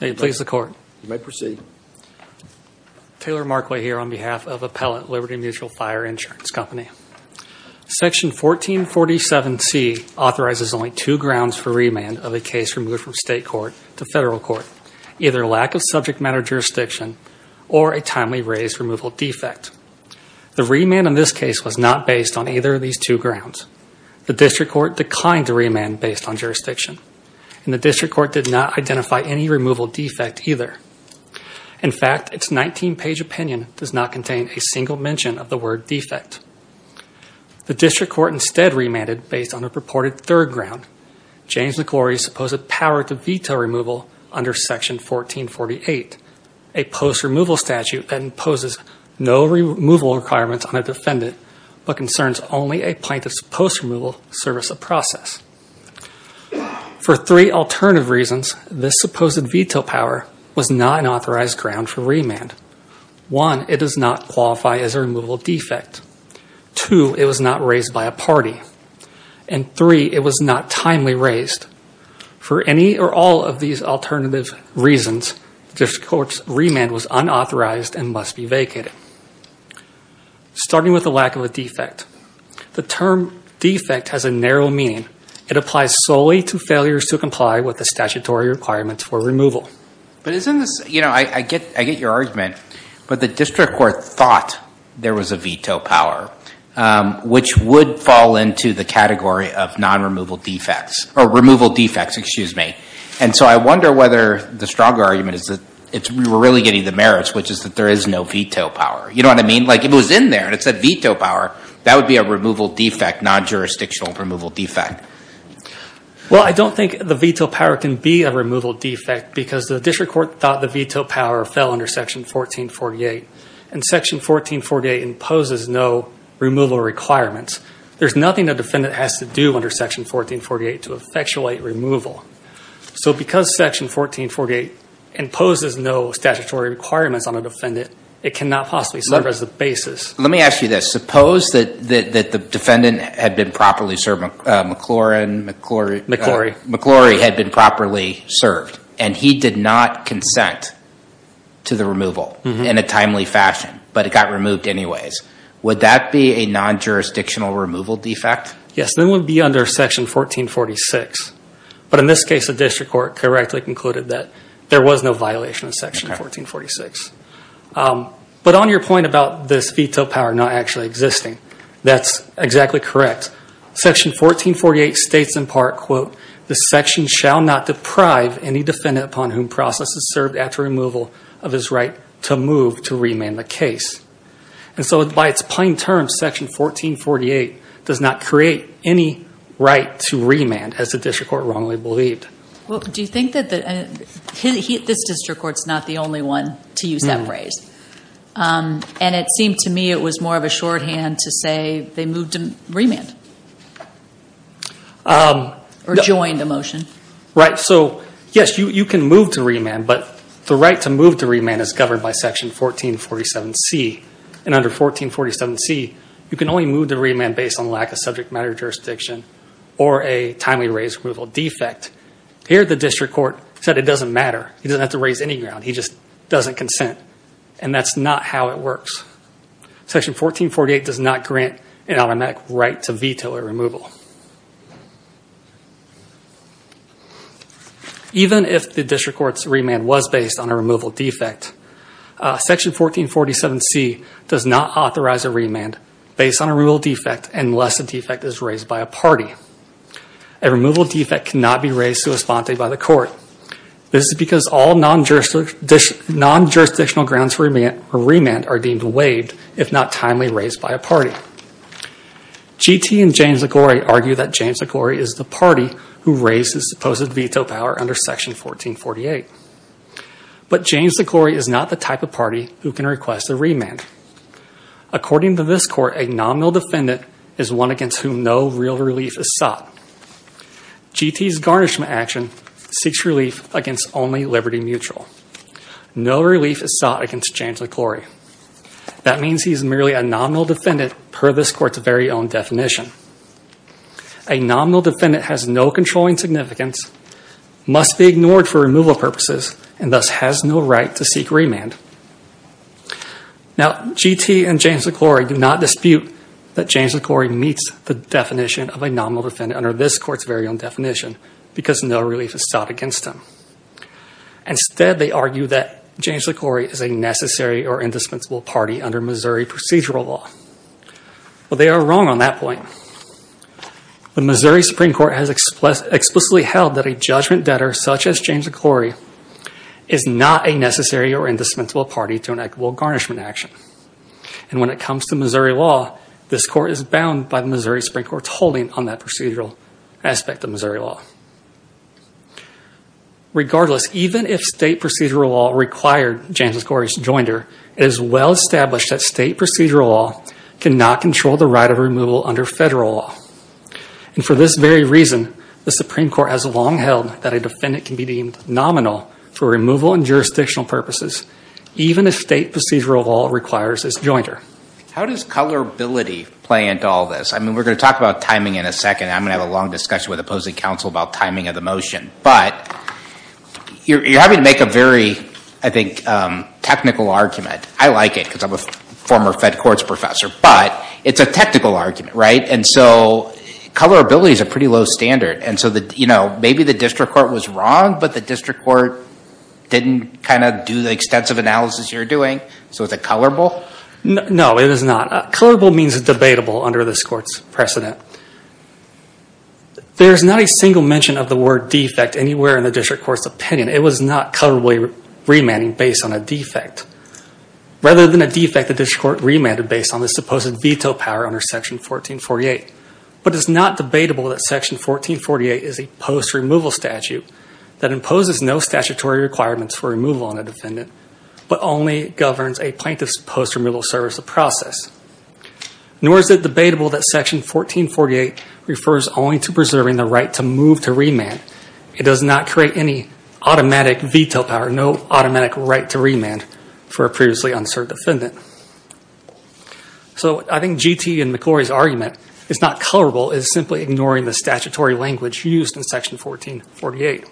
You may proceed. Taylor Markway here on behalf of Appellant Liberty Mutual Fire Insurance Company. Section 1447C authorizes only two grounds for remand of a case removed from state court to federal court. Either lack of subject matter jurisdiction or a timely raise removal defect. The remand in this case was not based on either of these two grounds. The district court declined to remand based on jurisdiction. And the district court did not identify any removal defect either. In fact, its 19-page opinion does not contain a single mention of the word defect. The district court instead remanded based on a purported third ground. James McGlory's supposed power to veto removal under Section 1448, a post-removal statute that imposes no removal requirements on a defendant, but concerns only a plaintiff's post-removal service of process. For three alternative reasons, this supposed veto power was not an authorized ground for remand. One, it does not qualify as a removal defect. Two, it was not raised by a party. And three, it was not timely raised. For any or all of these alternative reasons, the district court's remand was unauthorized and must be vacated. Starting with the lack of a defect. The term defect has a narrow meaning. It applies solely to failures to comply with the statutory requirements for removal. But isn't this, you know, I get your argument. But the district court thought there was a veto power, which would fall into the category of non-removal defects, or removal defects, excuse me. And so I wonder whether the stronger argument is that we're really getting the merits, which is that there is no veto power. You know what I mean? Like if it was in there and it said veto power, that would be a removal defect, non-jurisdictional removal defect. Well, I don't think the veto power can be a removal defect because the district court thought the veto power fell under Section 1448. And Section 1448 imposes no removal requirements. There's nothing a defendant has to do under Section 1448 to effectuate removal. So because Section 1448 imposes no statutory requirements on a defendant, it cannot possibly serve as a basis. Let me ask you this. Suppose that the defendant had been properly served, McLaurin, McClory. McClory. McClory had been properly served, and he did not consent to the removal in a timely fashion. But it got removed anyways. Would that be a non-jurisdictional removal defect? Yes, it would be under Section 1446. But in this case, the district court correctly concluded that there was no violation of Section 1446. But on your point about this veto power not actually existing, that's exactly correct. Section 1448 states in part, quote, the section shall not deprive any defendant upon whom process is served after removal of his right to move to remand the case. And so by its plain terms, Section 1448 does not create any right to remand, as the district court wrongly believed. Do you think that this district court's not the only one to use that phrase? And it seemed to me it was more of a shorthand to say they moved to remand. Or joined a motion. Right. So yes, you can move to remand, but the right to move to remand is governed by Section 1447C. And under 1447C, you can only move to remand based on lack of subject matter jurisdiction or a timely raised removal defect. Here the district court said it doesn't matter. He doesn't have to raise any ground. He just doesn't consent. And that's not how it works. Section 1448 does not grant an automatic right to veto a removal. Even if the district court's remand was based on a removal defect, Section 1447C does not authorize a remand based on a removal defect unless the defect is raised by a party. A removal defect cannot be raised sui sponte by the court. This is because all non-jurisdictional grounds for remand are deemed waived if not timely raised by a party. G.T. and James Liguori argue that James Liguori is the party who raised his supposed veto power under Section 1448. But James Liguori is not the type of party who can request a remand. According to this court, a nominal defendant is one against whom no real relief is sought. G.T.'s garnishment action seeks relief against only Liberty Mutual. No relief is sought against James Liguori. That means he is merely a nominal defendant per this court's very own definition. A nominal defendant has no controlling significance, must be ignored for removal purposes, and thus has no right to seek remand. Now, G.T. and James Liguori do not dispute that James Liguori meets the definition of a nominal defendant under this court's very own definition because no relief is sought against him. Instead, they argue that James Liguori is a necessary or indispensable party under Missouri procedural law. Well, they are wrong on that point. The Missouri Supreme Court has explicitly held that a judgment debtor such as James Liguori is not a necessary or indispensable party to an equitable garnishment action. And when it comes to Missouri law, this court is bound by the Missouri Supreme Court's holding on that procedural aspect of Missouri law. Regardless, even if state procedural law required James Liguori's joinder, it is well established that state procedural law cannot control the right of removal under federal law. And for this very reason, the Supreme Court has long held that a defendant can be deemed nominal for removal and jurisdictional purposes, even if state procedural law requires his joinder. How does colorability play into all this? I mean, we're going to talk about timing in a second. I'm going to have a long discussion with opposing counsel about timing of the motion. But you're having to make a very, I think, technical argument. I like it because I'm a former fed courts professor. But it's a technical argument, right? And so colorability is a pretty low standard. And so maybe the district court was wrong, but the district court didn't kind of do the extensive analysis you're doing. So is it colorable? No, it is not. Colorable means debatable under this court's precedent. There's not a single mention of the word defect anywhere in the district court's opinion. It was not colorably remanding based on a defect. Rather than a defect, the district court remanded based on the supposed veto power under Section 1448. But it's not debatable that Section 1448 is a post-removal statute that imposes no statutory requirements for removal on a defendant, but only governs a plaintiff's post-removal service of process. Nor is it debatable that Section 1448 refers only to preserving the right to move to remand. It does not create any automatic veto power, no automatic right to remand for a previously unserved defendant. So I think G.T. and McClory's argument is not colorable. It's simply ignoring the statutory language used in Section 1448.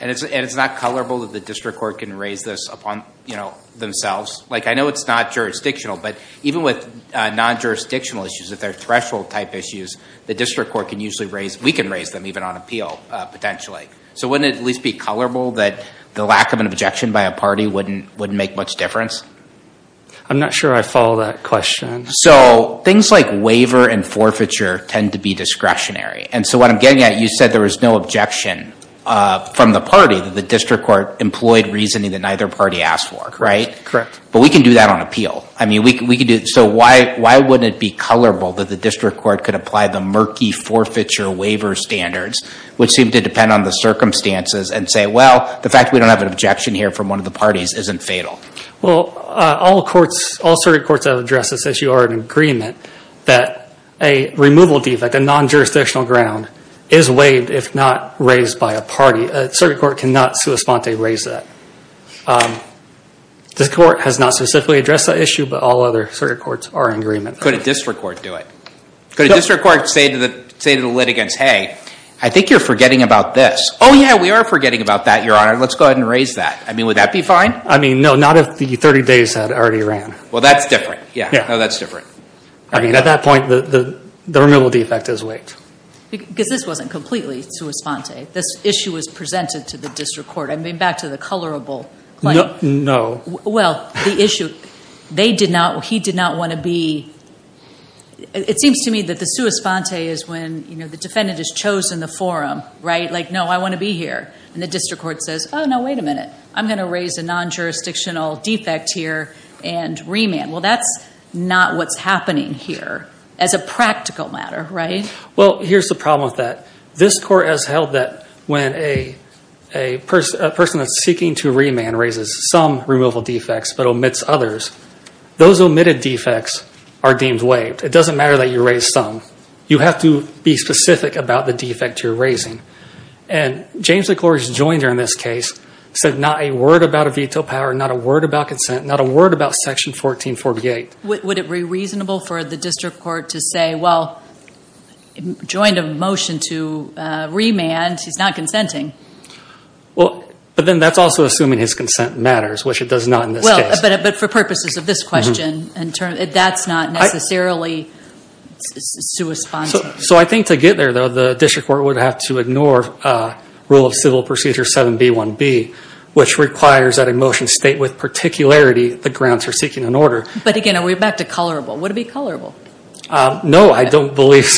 And it's not colorable that the district court can raise this upon themselves? I know it's not jurisdictional, but even with non-jurisdictional issues, if they're threshold-type issues, the district court can usually raise them. We can raise them even on appeal, potentially. So wouldn't it at least be colorable that the lack of an objection by a party wouldn't make much difference? I'm not sure I follow that question. So things like waiver and forfeiture tend to be discretionary. And so what I'm getting at, you said there was no objection from the party that the district court employed reasoning that neither party asked for, right? Correct. But we can do that on appeal. So why wouldn't it be colorable that the district court could apply the murky forfeiture waiver standards, which seem to depend on the circumstances, and say, well, the fact that we don't have an objection here from one of the parties isn't fatal? Well, all circuit courts have addressed this issue or are in agreement that a removal defect, a non-jurisdictional ground, is waived if not raised by a party. A circuit court cannot sui sponte raise that. The court has not specifically addressed that issue, but all other circuit courts are in agreement. Could a district court do it? Could a district court say to the litigants, hey, I think you're forgetting about this. Oh, yeah, we are forgetting about that, Your Honor. Let's go ahead and raise that. I mean, would that be fine? I mean, no, not if the 30 days had already ran. Well, that's different. Yeah, no, that's different. I mean, at that point, the removal defect is waived. Because this wasn't completely sui sponte. This issue was presented to the district court. I mean, back to the colorable claim. No. Well, the issue, they did not, he did not want to be, it seems to me that the sui sponte is when the defendant has chosen the forum, right? Like, no, I want to be here. And the district court says, oh, no, wait a minute. I'm going to raise a non-jurisdictional defect here and remand. Well, that's not what's happening here as a practical matter, right? Well, here's the problem with that. This court has held that when a person that's seeking to remand raises some removal defects but omits others, those omitted defects are deemed waived. It doesn't matter that you raise some. You have to be specific about the defect you're raising. And James McClory's joiner in this case said not a word about a veto power, not a word about consent, not a word about Section 1448. Would it be reasonable for the district court to say, well, joined a motion to remand. He's not consenting. Well, but then that's also assuming his consent matters, which it does not in this case. Well, but for purposes of this question, that's not necessarily sui sponte. So I think to get there, though, the district court would have to ignore Rule of Civil Procedure 7B1B, which requires that a motion state with particularity the grounds for seeking an order. But, again, we're back to colorable. Would it be colorable? No, I don't believe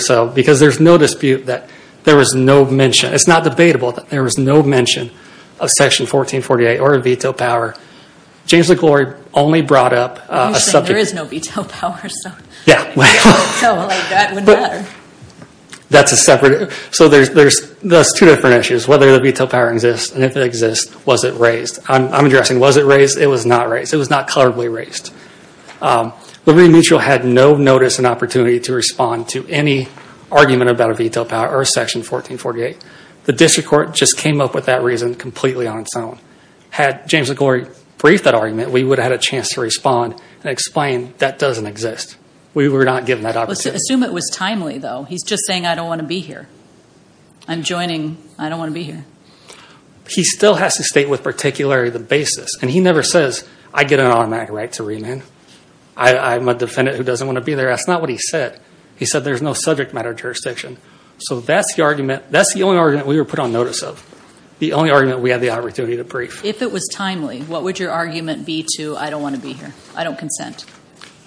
so. Because there's no dispute that there was no mention. It's not debatable that there was no mention of Section 1448 or a veto power. James McClory only brought up a subject. There is no veto power, so that would matter. That's a separate. So there's two different issues, whether the veto power exists, and if it exists, was it raised. I'm addressing was it raised. It was not raised. It was not colorably raised. Liberty Mutual had no notice and opportunity to respond to any argument about a veto power or Section 1448. The district court just came up with that reason completely on its own. Had James McClory briefed that argument, we would have had a chance to respond and explain that doesn't exist. We were not given that opportunity. Assume it was timely, though. He's just saying, I don't want to be here. I'm joining. I don't want to be here. He still has to state with particularity the basis, and he never says, I get an automatic right to remand. I'm a defendant who doesn't want to be there. That's not what he said. He said there's no subject matter jurisdiction. So that's the argument. That's the only argument we were put on notice of, the only argument we had the opportunity to brief. If it was timely, what would your argument be to, I don't want to be here, I don't consent?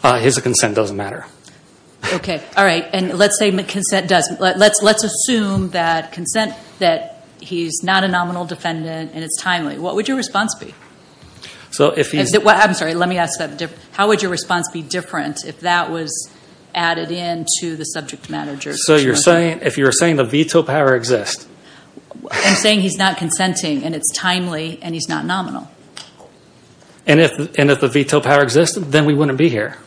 His consent doesn't matter. Okay. All right. And let's assume that consent, that he's not a nominal defendant and it's timely. What would your response be? I'm sorry. Let me ask that. How would your response be different if that was added in to the subject matter jurisdiction? So if you're saying the veto power exists. I'm saying he's not consenting and it's timely and he's not nominal. And if the veto power exists, then we wouldn't be here.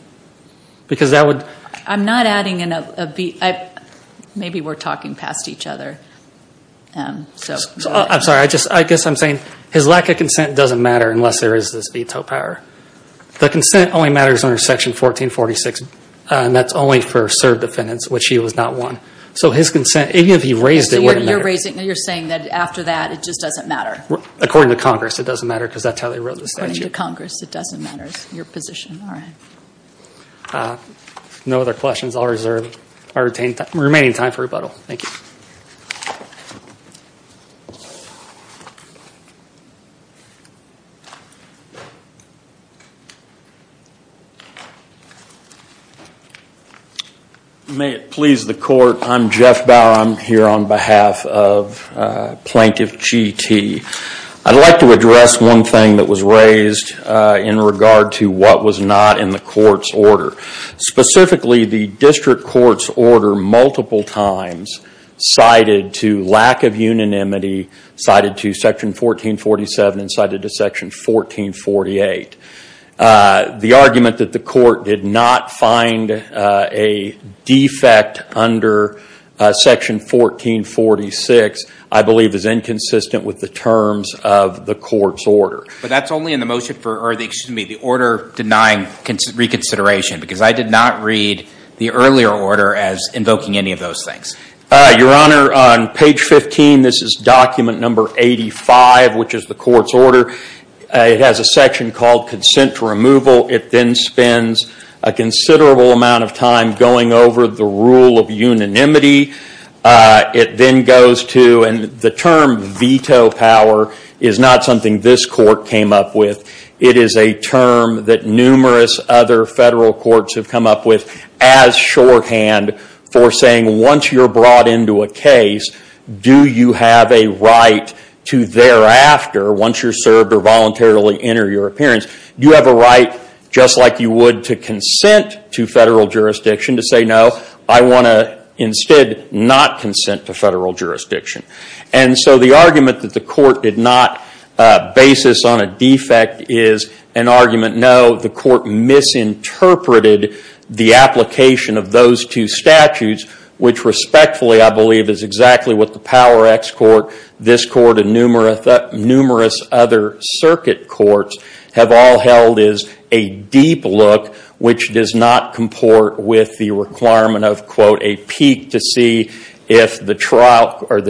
Because that would. I'm not adding in a veto. Maybe we're talking past each other. I'm sorry. I guess I'm saying his lack of consent doesn't matter unless there is this veto power. The consent only matters under Section 1446, and that's only for served defendants, which he was not one. So his consent, even if he raised it, wouldn't matter. So you're saying that after that, it just doesn't matter. According to Congress, it doesn't matter because that's how they wrote the statute. According to Congress, it doesn't matter. It's your position. All right. No other questions. I'll reserve our remaining time for rebuttal. Thank you. May it please the court. I'm Jeff Bauer. I'm here on behalf of Plaintiff G.T. I'd like to address one thing that was raised in regard to what was not in the court's order. Specifically, the district court's order multiple times cited to lack of unanimity, cited to Section 1447, and cited to Section 1448. The argument that the court did not find a defect under Section 1446, I believe, is inconsistent with the terms of the court's order. But that's only in the order denying reconsideration because I did not read the earlier order as invoking any of those things. Your Honor, on page 15, this is document number 85, which is the court's order. It has a section called consent removal. It then spends a considerable amount of time going over the rule of unanimity. It then goes to, and the term veto power is not something this court came up with. It is a term that numerous other federal courts have come up with as shorthand for saying once you're brought into a case, do you have a right to thereafter, once you're served or voluntarily enter your appearance, do you have a right just like you would to consent to federal jurisdiction to say no? I want to instead not consent to federal jurisdiction. And so the argument that the court did not basis on a defect is an argument, no, the court misinterpreted the application of those two statutes, which respectfully I believe is exactly what the Power Act's court, this court, and numerous other circuit courts have all held is a deep look, which does not comport with the requirement of, quote, a peak to see if the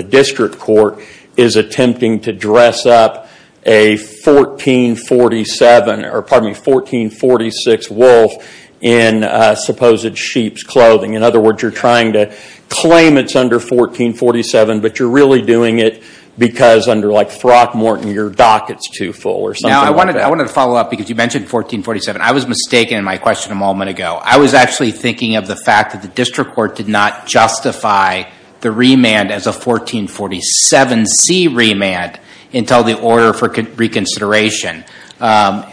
district court is attempting to dress up a 1446 wolf in supposed sheep's clothing. In other words, you're trying to claim it's under 1447, but you're really doing it because under like Throckmorton your docket's too full or something like that. Now, I wanted to follow up because you mentioned 1447. I was mistaken in my question a moment ago. I was actually thinking of the fact that the district court did not justify the remand as a 1447C remand until the order for reconsideration,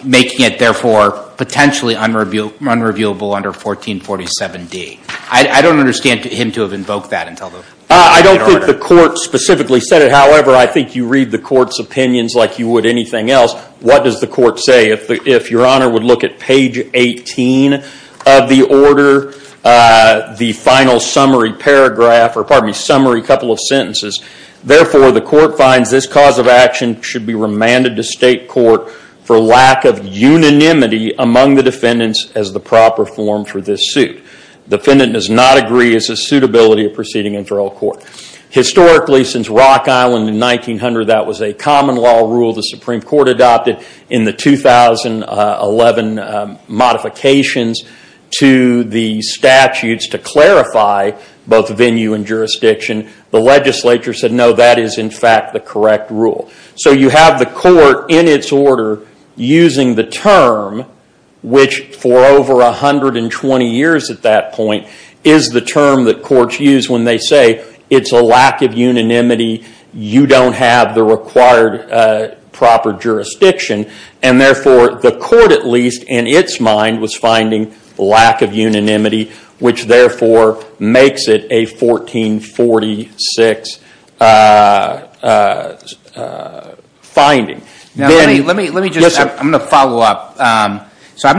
making it therefore potentially unreviewable under 1447D. I don't understand him to have invoked that until the order. I don't think the court specifically said it. However, I think you read the court's opinions like you would anything else. What does the court say if your honor would look at page 18 of the order, the final summary paragraph, or pardon me, summary couple of sentences. Therefore, the court finds this cause of action should be remanded to state court for lack of unanimity among the defendants as the proper form for this suit. Defendant does not agree as a suitability of proceeding in federal court. Historically, since Rock Island in 1900, that was a common law rule the Supreme Court adopted in the 2011 modifications to the statutes to clarify both venue and jurisdiction. The legislature said, no, that is in fact the correct rule. You have the court in its order using the term which for over 120 years at that point is the term that courts use when they say it's a lack of unanimity, you don't have the required proper jurisdiction. Therefore, the court at least in its mind was finding lack of unanimity which therefore makes it a 1446 finding. Let me just, I'm going to follow up. I'm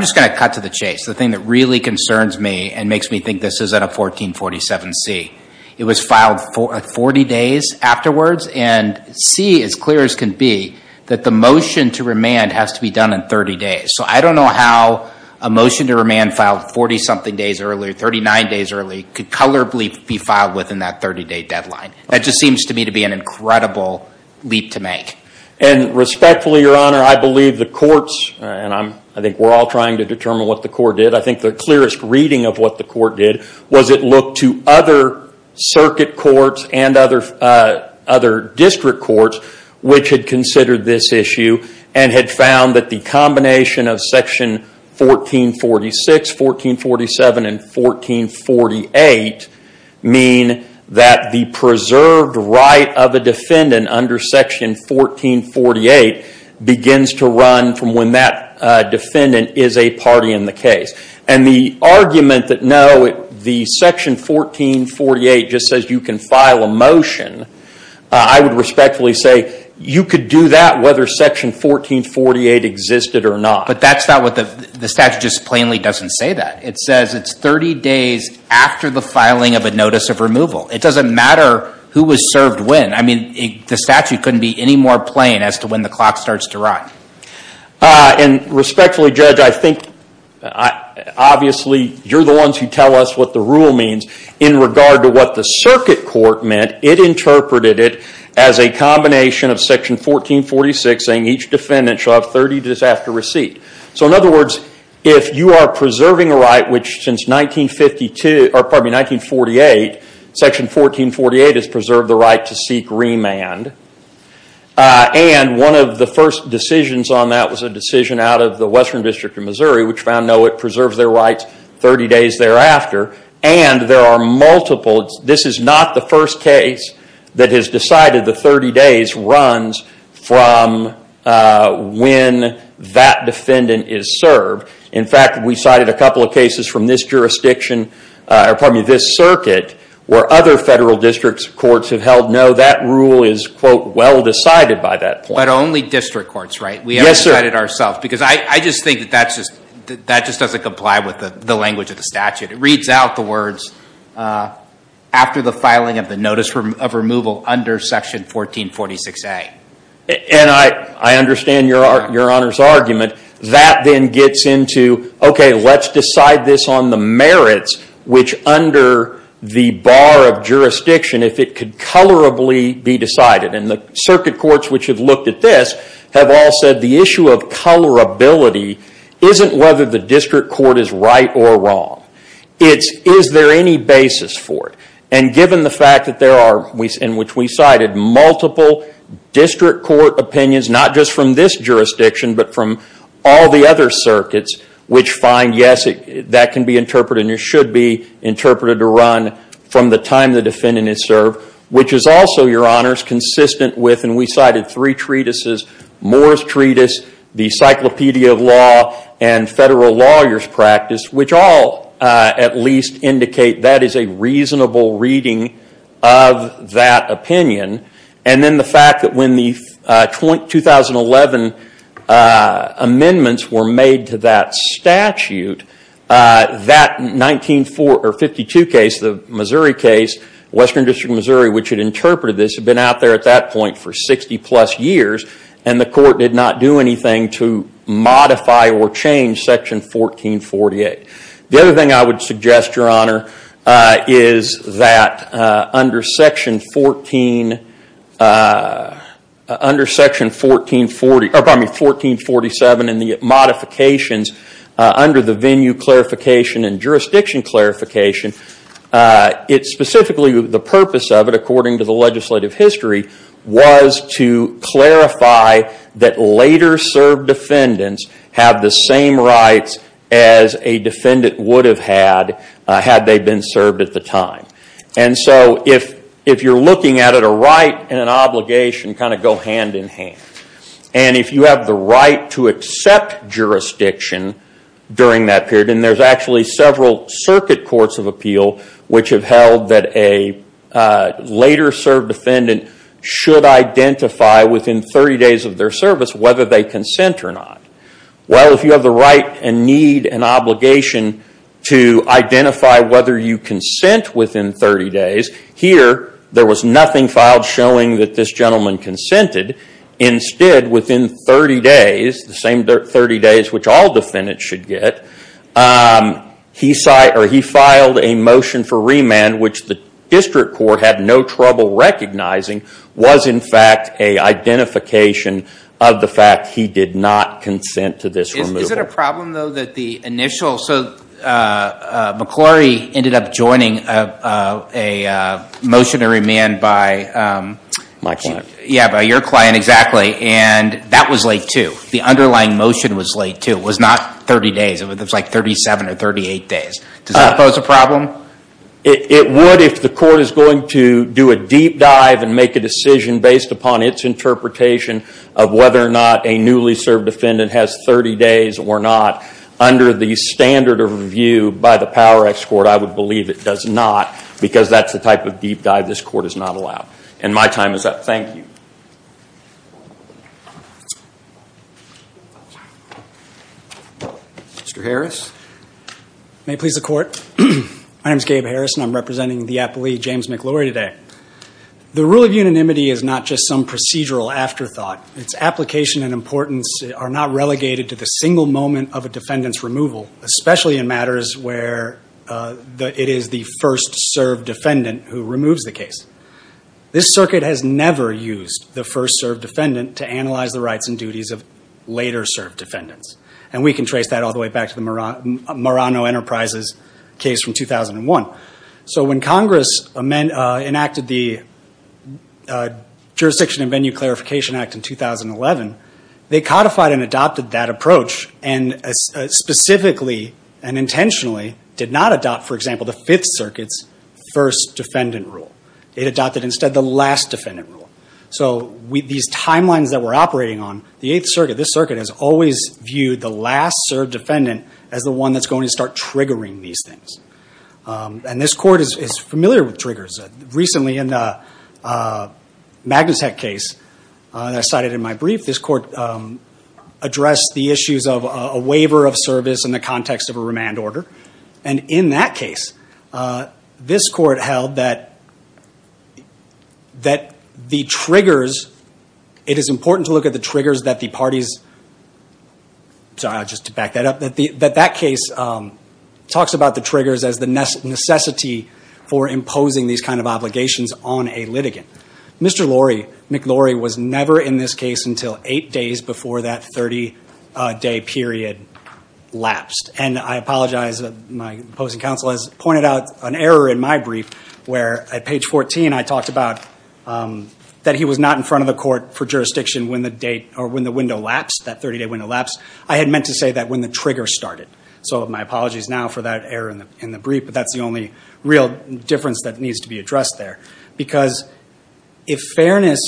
just going to cut to the chase. The thing that really concerns me and makes me think this isn't a 1447C. It was filed 40 days afterwards and C as clear as can be, that the motion to remand has to be done in 30 days. I don't know how a motion to remand filed 40 something days earlier, 39 days earlier, could colorably be filed within that 30-day deadline. That just seems to me to be an incredible leap to make. Respectfully, Your Honor, I believe the courts, and I think we're all trying to determine what the court did, I think the clearest reading of what the court did was it looked to other circuit courts and other district courts which had considered this issue and had found that the combination of section 1446, 1447, and 1448 mean that the preserved right of a defendant under section 1448 begins to run from when that defendant is a party in the case. The argument that no, the section 1448 just says you can file a motion, I would respectfully say you could do that whether section 1448 existed or not. But that's not what the statute just plainly doesn't say that. It says it's 30 days after the filing of a notice of removal. It doesn't matter who was served when. I mean, the statute couldn't be any more plain as to when the clock starts to run. And respectfully, Judge, I think obviously you're the ones who tell us what the rule means. In regard to what the circuit court meant, it interpreted it as a combination of section 1446 saying each defendant shall have 30 days after receipt. So in other words, if you are preserving a right which since 1948, section 1448 has preserved the right to seek remand, and one of the first decisions on that was a decision out of the Western District of Missouri which found no, it preserves their rights 30 days thereafter, and there are multiple, this is not the first case that has decided the 30 days runs from when that defendant is served. In fact, we cited a couple of cases from this jurisdiction, pardon me, this circuit where other federal district courts have held no, that rule is, quote, well decided by that point. But only district courts, right? Yes, sir. We haven't decided ourselves because I just think that just doesn't comply with the language of the statute. It reads out the words after the filing of the notice of removal under section 1446A. And I understand your Honor's argument. That then gets into, okay, let's decide this on the merits which under the bar of jurisdiction, if it could colorably be decided. And the circuit courts which have looked at this have all said the issue of colorability isn't whether the district court is right or wrong. It's, is there any basis for it? And given the fact that there are, in which we cited, multiple district court opinions, not just from this jurisdiction, but from all the other circuits, which find yes, that can be interpreted and should be interpreted to run from the time the defendant is served, which is also, your Honor, consistent with, and we cited three treatises, Morris Treatise, the Cyclopedia of Law, and Federal Lawyer's Practice, which all at least indicate that is a reasonable reading of that opinion. And then the fact that when the 2011 amendments were made to that statute, that 1952 case, the Missouri case, Western District of Missouri, which had interpreted this, had been out there at that point for 60 plus years, and the court did not do anything to modify or change Section 1448. The other thing I would suggest, your Honor, is that under Section 14, under Section 1440, pardon me, 1447 and the modifications under the venue clarification and jurisdiction clarification, it specifically, the purpose of it, according to the legislative history, was to clarify that later served defendants have the same rights as a defendant would have had had they been served at the time. And so if you're looking at it, a right and an obligation kind of go hand in hand. And if you have the right to accept jurisdiction during that period, and there's actually several circuit courts of appeal which have held that a later served defendant should identify within 30 days of their service whether they consent or not. Well, if you have the right and need and obligation to identify whether you consent within 30 days, here there was nothing filed showing that this gentleman consented. Instead, within 30 days, the same 30 days which all defendants should get, he filed a motion for remand which the district court had no trouble recognizing was in fact a identification of the fact he did not consent to this removal. Is it a problem though that the initial, so McClory ended up joining a motion to remand by My client. Yeah, by your client exactly. And that was late too. The underlying motion was late too. It was not 30 days. It was like 37 or 38 days. Does that pose a problem? It would if the court is going to do a deep dive and make a decision based upon its interpretation of whether or not a newly served defendant has 30 days or not under the standard of review by the Power Act's court. I would believe it does not because that's the type of deep dive this court is not allowed. And my time is up. Thank you. Mr. Harris. May it please the court. My name is Gabe Harris and I'm representing the appellee James McClory today. The rule of unanimity is not just some procedural afterthought. Its application and importance are not relegated to the single moment of a defendant's removal, especially in matters where it is the first served defendant who removes the case. This circuit has never used the first served defendant to analyze the rights and duties of later served defendants. And we can trace that all the way back to the Marano Enterprises case from 2001. So when Congress enacted the Jurisdiction and Venue Clarification Act in 2011, they codified and adopted that approach and specifically and intentionally did not adopt, for example, the Fifth Circuit's first defendant rule. It adopted instead the last defendant rule. So these timelines that we're operating on, the Eighth Circuit, this circuit has always viewed the last served defendant as the one that's going to start triggering these things. And this court is familiar with triggers. Recently in the Magnus Hecht case that I cited in my brief, this court addressed the issues of a waiver of service in the context of a remand order. And in that case, this court held that the triggers, it is important to look at the triggers that the parties, sorry, just to back that up, that that case talks about the triggers as the necessity for imposing these kind of obligations on a litigant. Mr. McLaury was never in this case until eight days before that 30-day period lapsed. And I apologize, my opposing counsel has pointed out an error in my brief where at page 14, I talked about that he was not in front of the court for jurisdiction when the window lapsed, that 30-day window lapsed. I had meant to say that when the trigger started. So my apologies now for that error in the brief, but that's the only real difference that needs to be addressed there. Because if fairness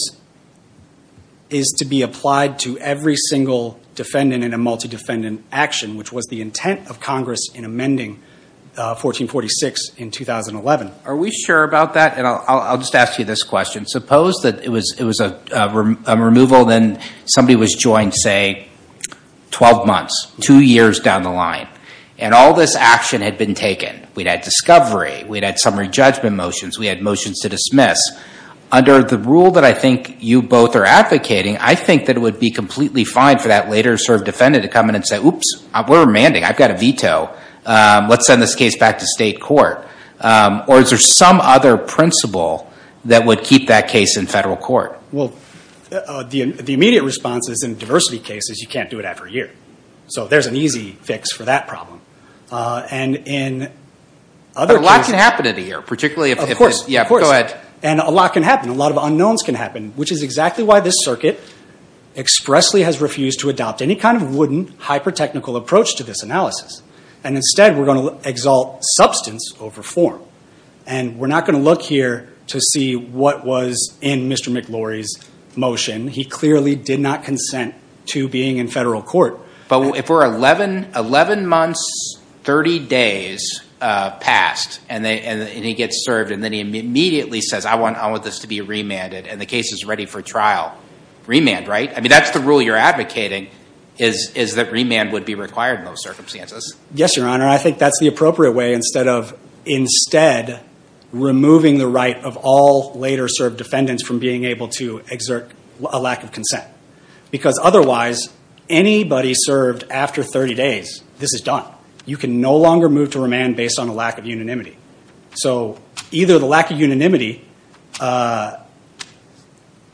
is to be applied to every single defendant in a multi-defendant action, which was the intent of Congress in amending 1446 in 2011. Are we sure about that? And I'll just ask you this question. Suppose that it was a removal, then somebody was joined, say, 12 months, two years down the line. And all this action had been taken. We'd had discovery. We'd had summary judgment motions. We had motions to dismiss. Under the rule that I think you both are advocating, I think that it would be completely fine for that later served defendant to come in and say, oops, we're amending, I've got a veto, let's send this case back to state court. Or is there some other principle that would keep that case in federal court? Well, the immediate response is in diversity cases, you can't do it after a year. So there's an easy fix for that problem. And in other cases. But a lot can happen in a year, particularly if... Yeah, go ahead. And a lot can happen. A lot of unknowns can happen, which is exactly why this circuit expressly has refused to adopt any kind of wooden, hyper-technical approach to this analysis. And instead we're going to exalt substance over form. And we're not going to look here to see what was in Mr. McLaury's motion. He clearly did not consent to being in federal court. But if we're 11 months, 30 days past, and he gets served, and then he immediately says, I want this to be remanded, and the case is ready for trial. Remand, right? I mean, that's the rule you're advocating, is that remand would be required in those circumstances. Yes, Your Honor. I think that's the appropriate way. Instead of... Instead, removing the right of all later served defendants from being able to exert a lack of consent. Because otherwise, anybody served after 30 days, this is done. You can no longer move to remand based on a lack of unanimity. So either the lack of unanimity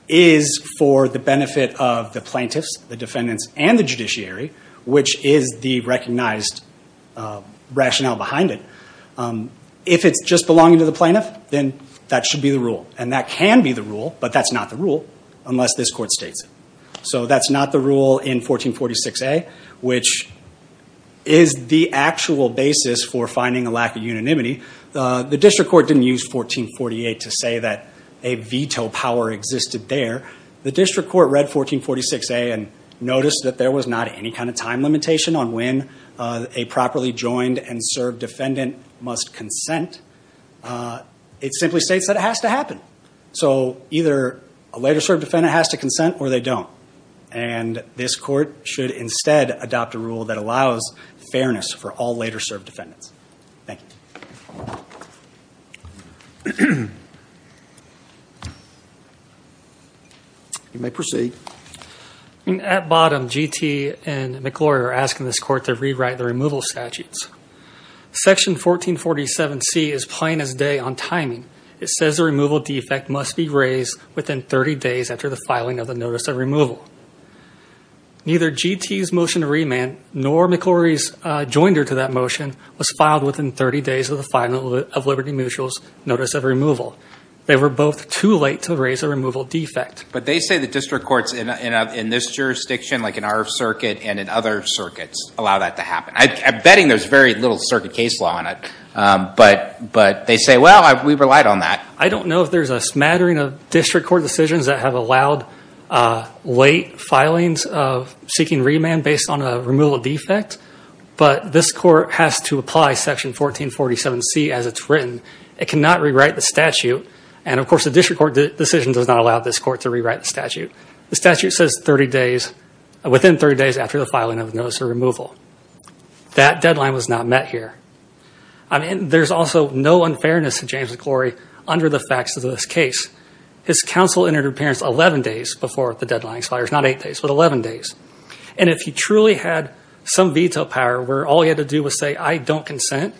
is for the benefit of the plaintiffs, the defendants, and the judiciary, which is the recognized rationale behind it. If it's just belonging to the plaintiff, then that should be the rule. And that can be the rule, but that's not the rule unless this court states it. So that's not the rule in 1446A, which is the actual basis for finding a lack of unanimity. The district court didn't use 1448 to say that a veto power existed there. The district court read 1446A and noticed that there was not any kind of time limitation on when a properly joined and served defendant must consent. It simply states that it has to happen. So either a later served defendant has to consent or they don't. And this court should instead adopt a rule that allows fairness for all later served defendants. Thank you. You may proceed. At bottom, GT and McGlory are asking this court to rewrite the removal statutes. Section 1447C is plain as day on timing. It says the removal defect must be raised within 30 days after the filing of the notice of removal. Neither GT's motion to remand nor McGlory's joinder to that motion was filed within 30 days of the filing of Liberty Mutual's notice of removal. They were both too late to raise a removal defect. But they say the district courts in this jurisdiction, like in our circuit and in other circuits, allow that to happen. I'm betting there's very little circuit case law on it. But they say, well, we relied on that. I don't know if there's a smattering of district court decisions that have allowed late filings of seeking remand based on a removal defect. But this court has to apply Section 1447C as it's written. It cannot rewrite the statute. And, of course, the district court decision does not allow this court to rewrite the statute. The statute says within 30 days after the filing of the notice of removal. That deadline was not met here. I mean, there's also no unfairness to James McGlory under the facts of this case. His counsel entered appearance 11 days before the deadline expires. Not eight days, but 11 days. And if he truly had some veto power where all he had to do was say, I don't consent,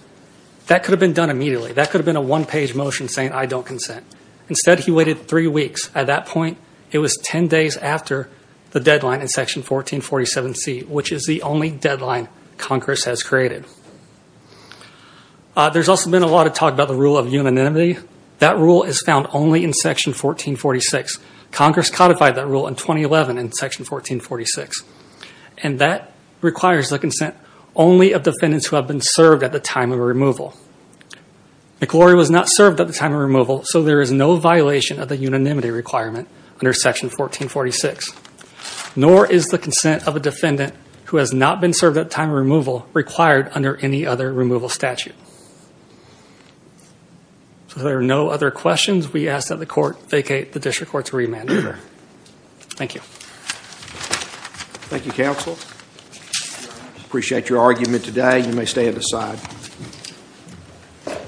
that could have been done immediately. That could have been a one-page motion saying, I don't consent. Instead, he waited three weeks. At that point, it was 10 days after the deadline in Section 1447C, which is the only deadline Congress has created. There's also been a lot of talk about the rule of unanimity. That rule is found only in Section 1446. Congress codified that rule in 2011 in Section 1446. And that requires the consent only of defendants who have been served at the time of removal. McGlory was not served at the time of removal, so there is no violation of the unanimity requirement under Section 1446. Nor is the consent of a defendant who has not been served at the time of removal required under any other removal statute. So there are no other questions. We ask that the court vacate the district court's remand order. Thank you. Thank you, counsel. Appreciate your argument today. You may stay at the side.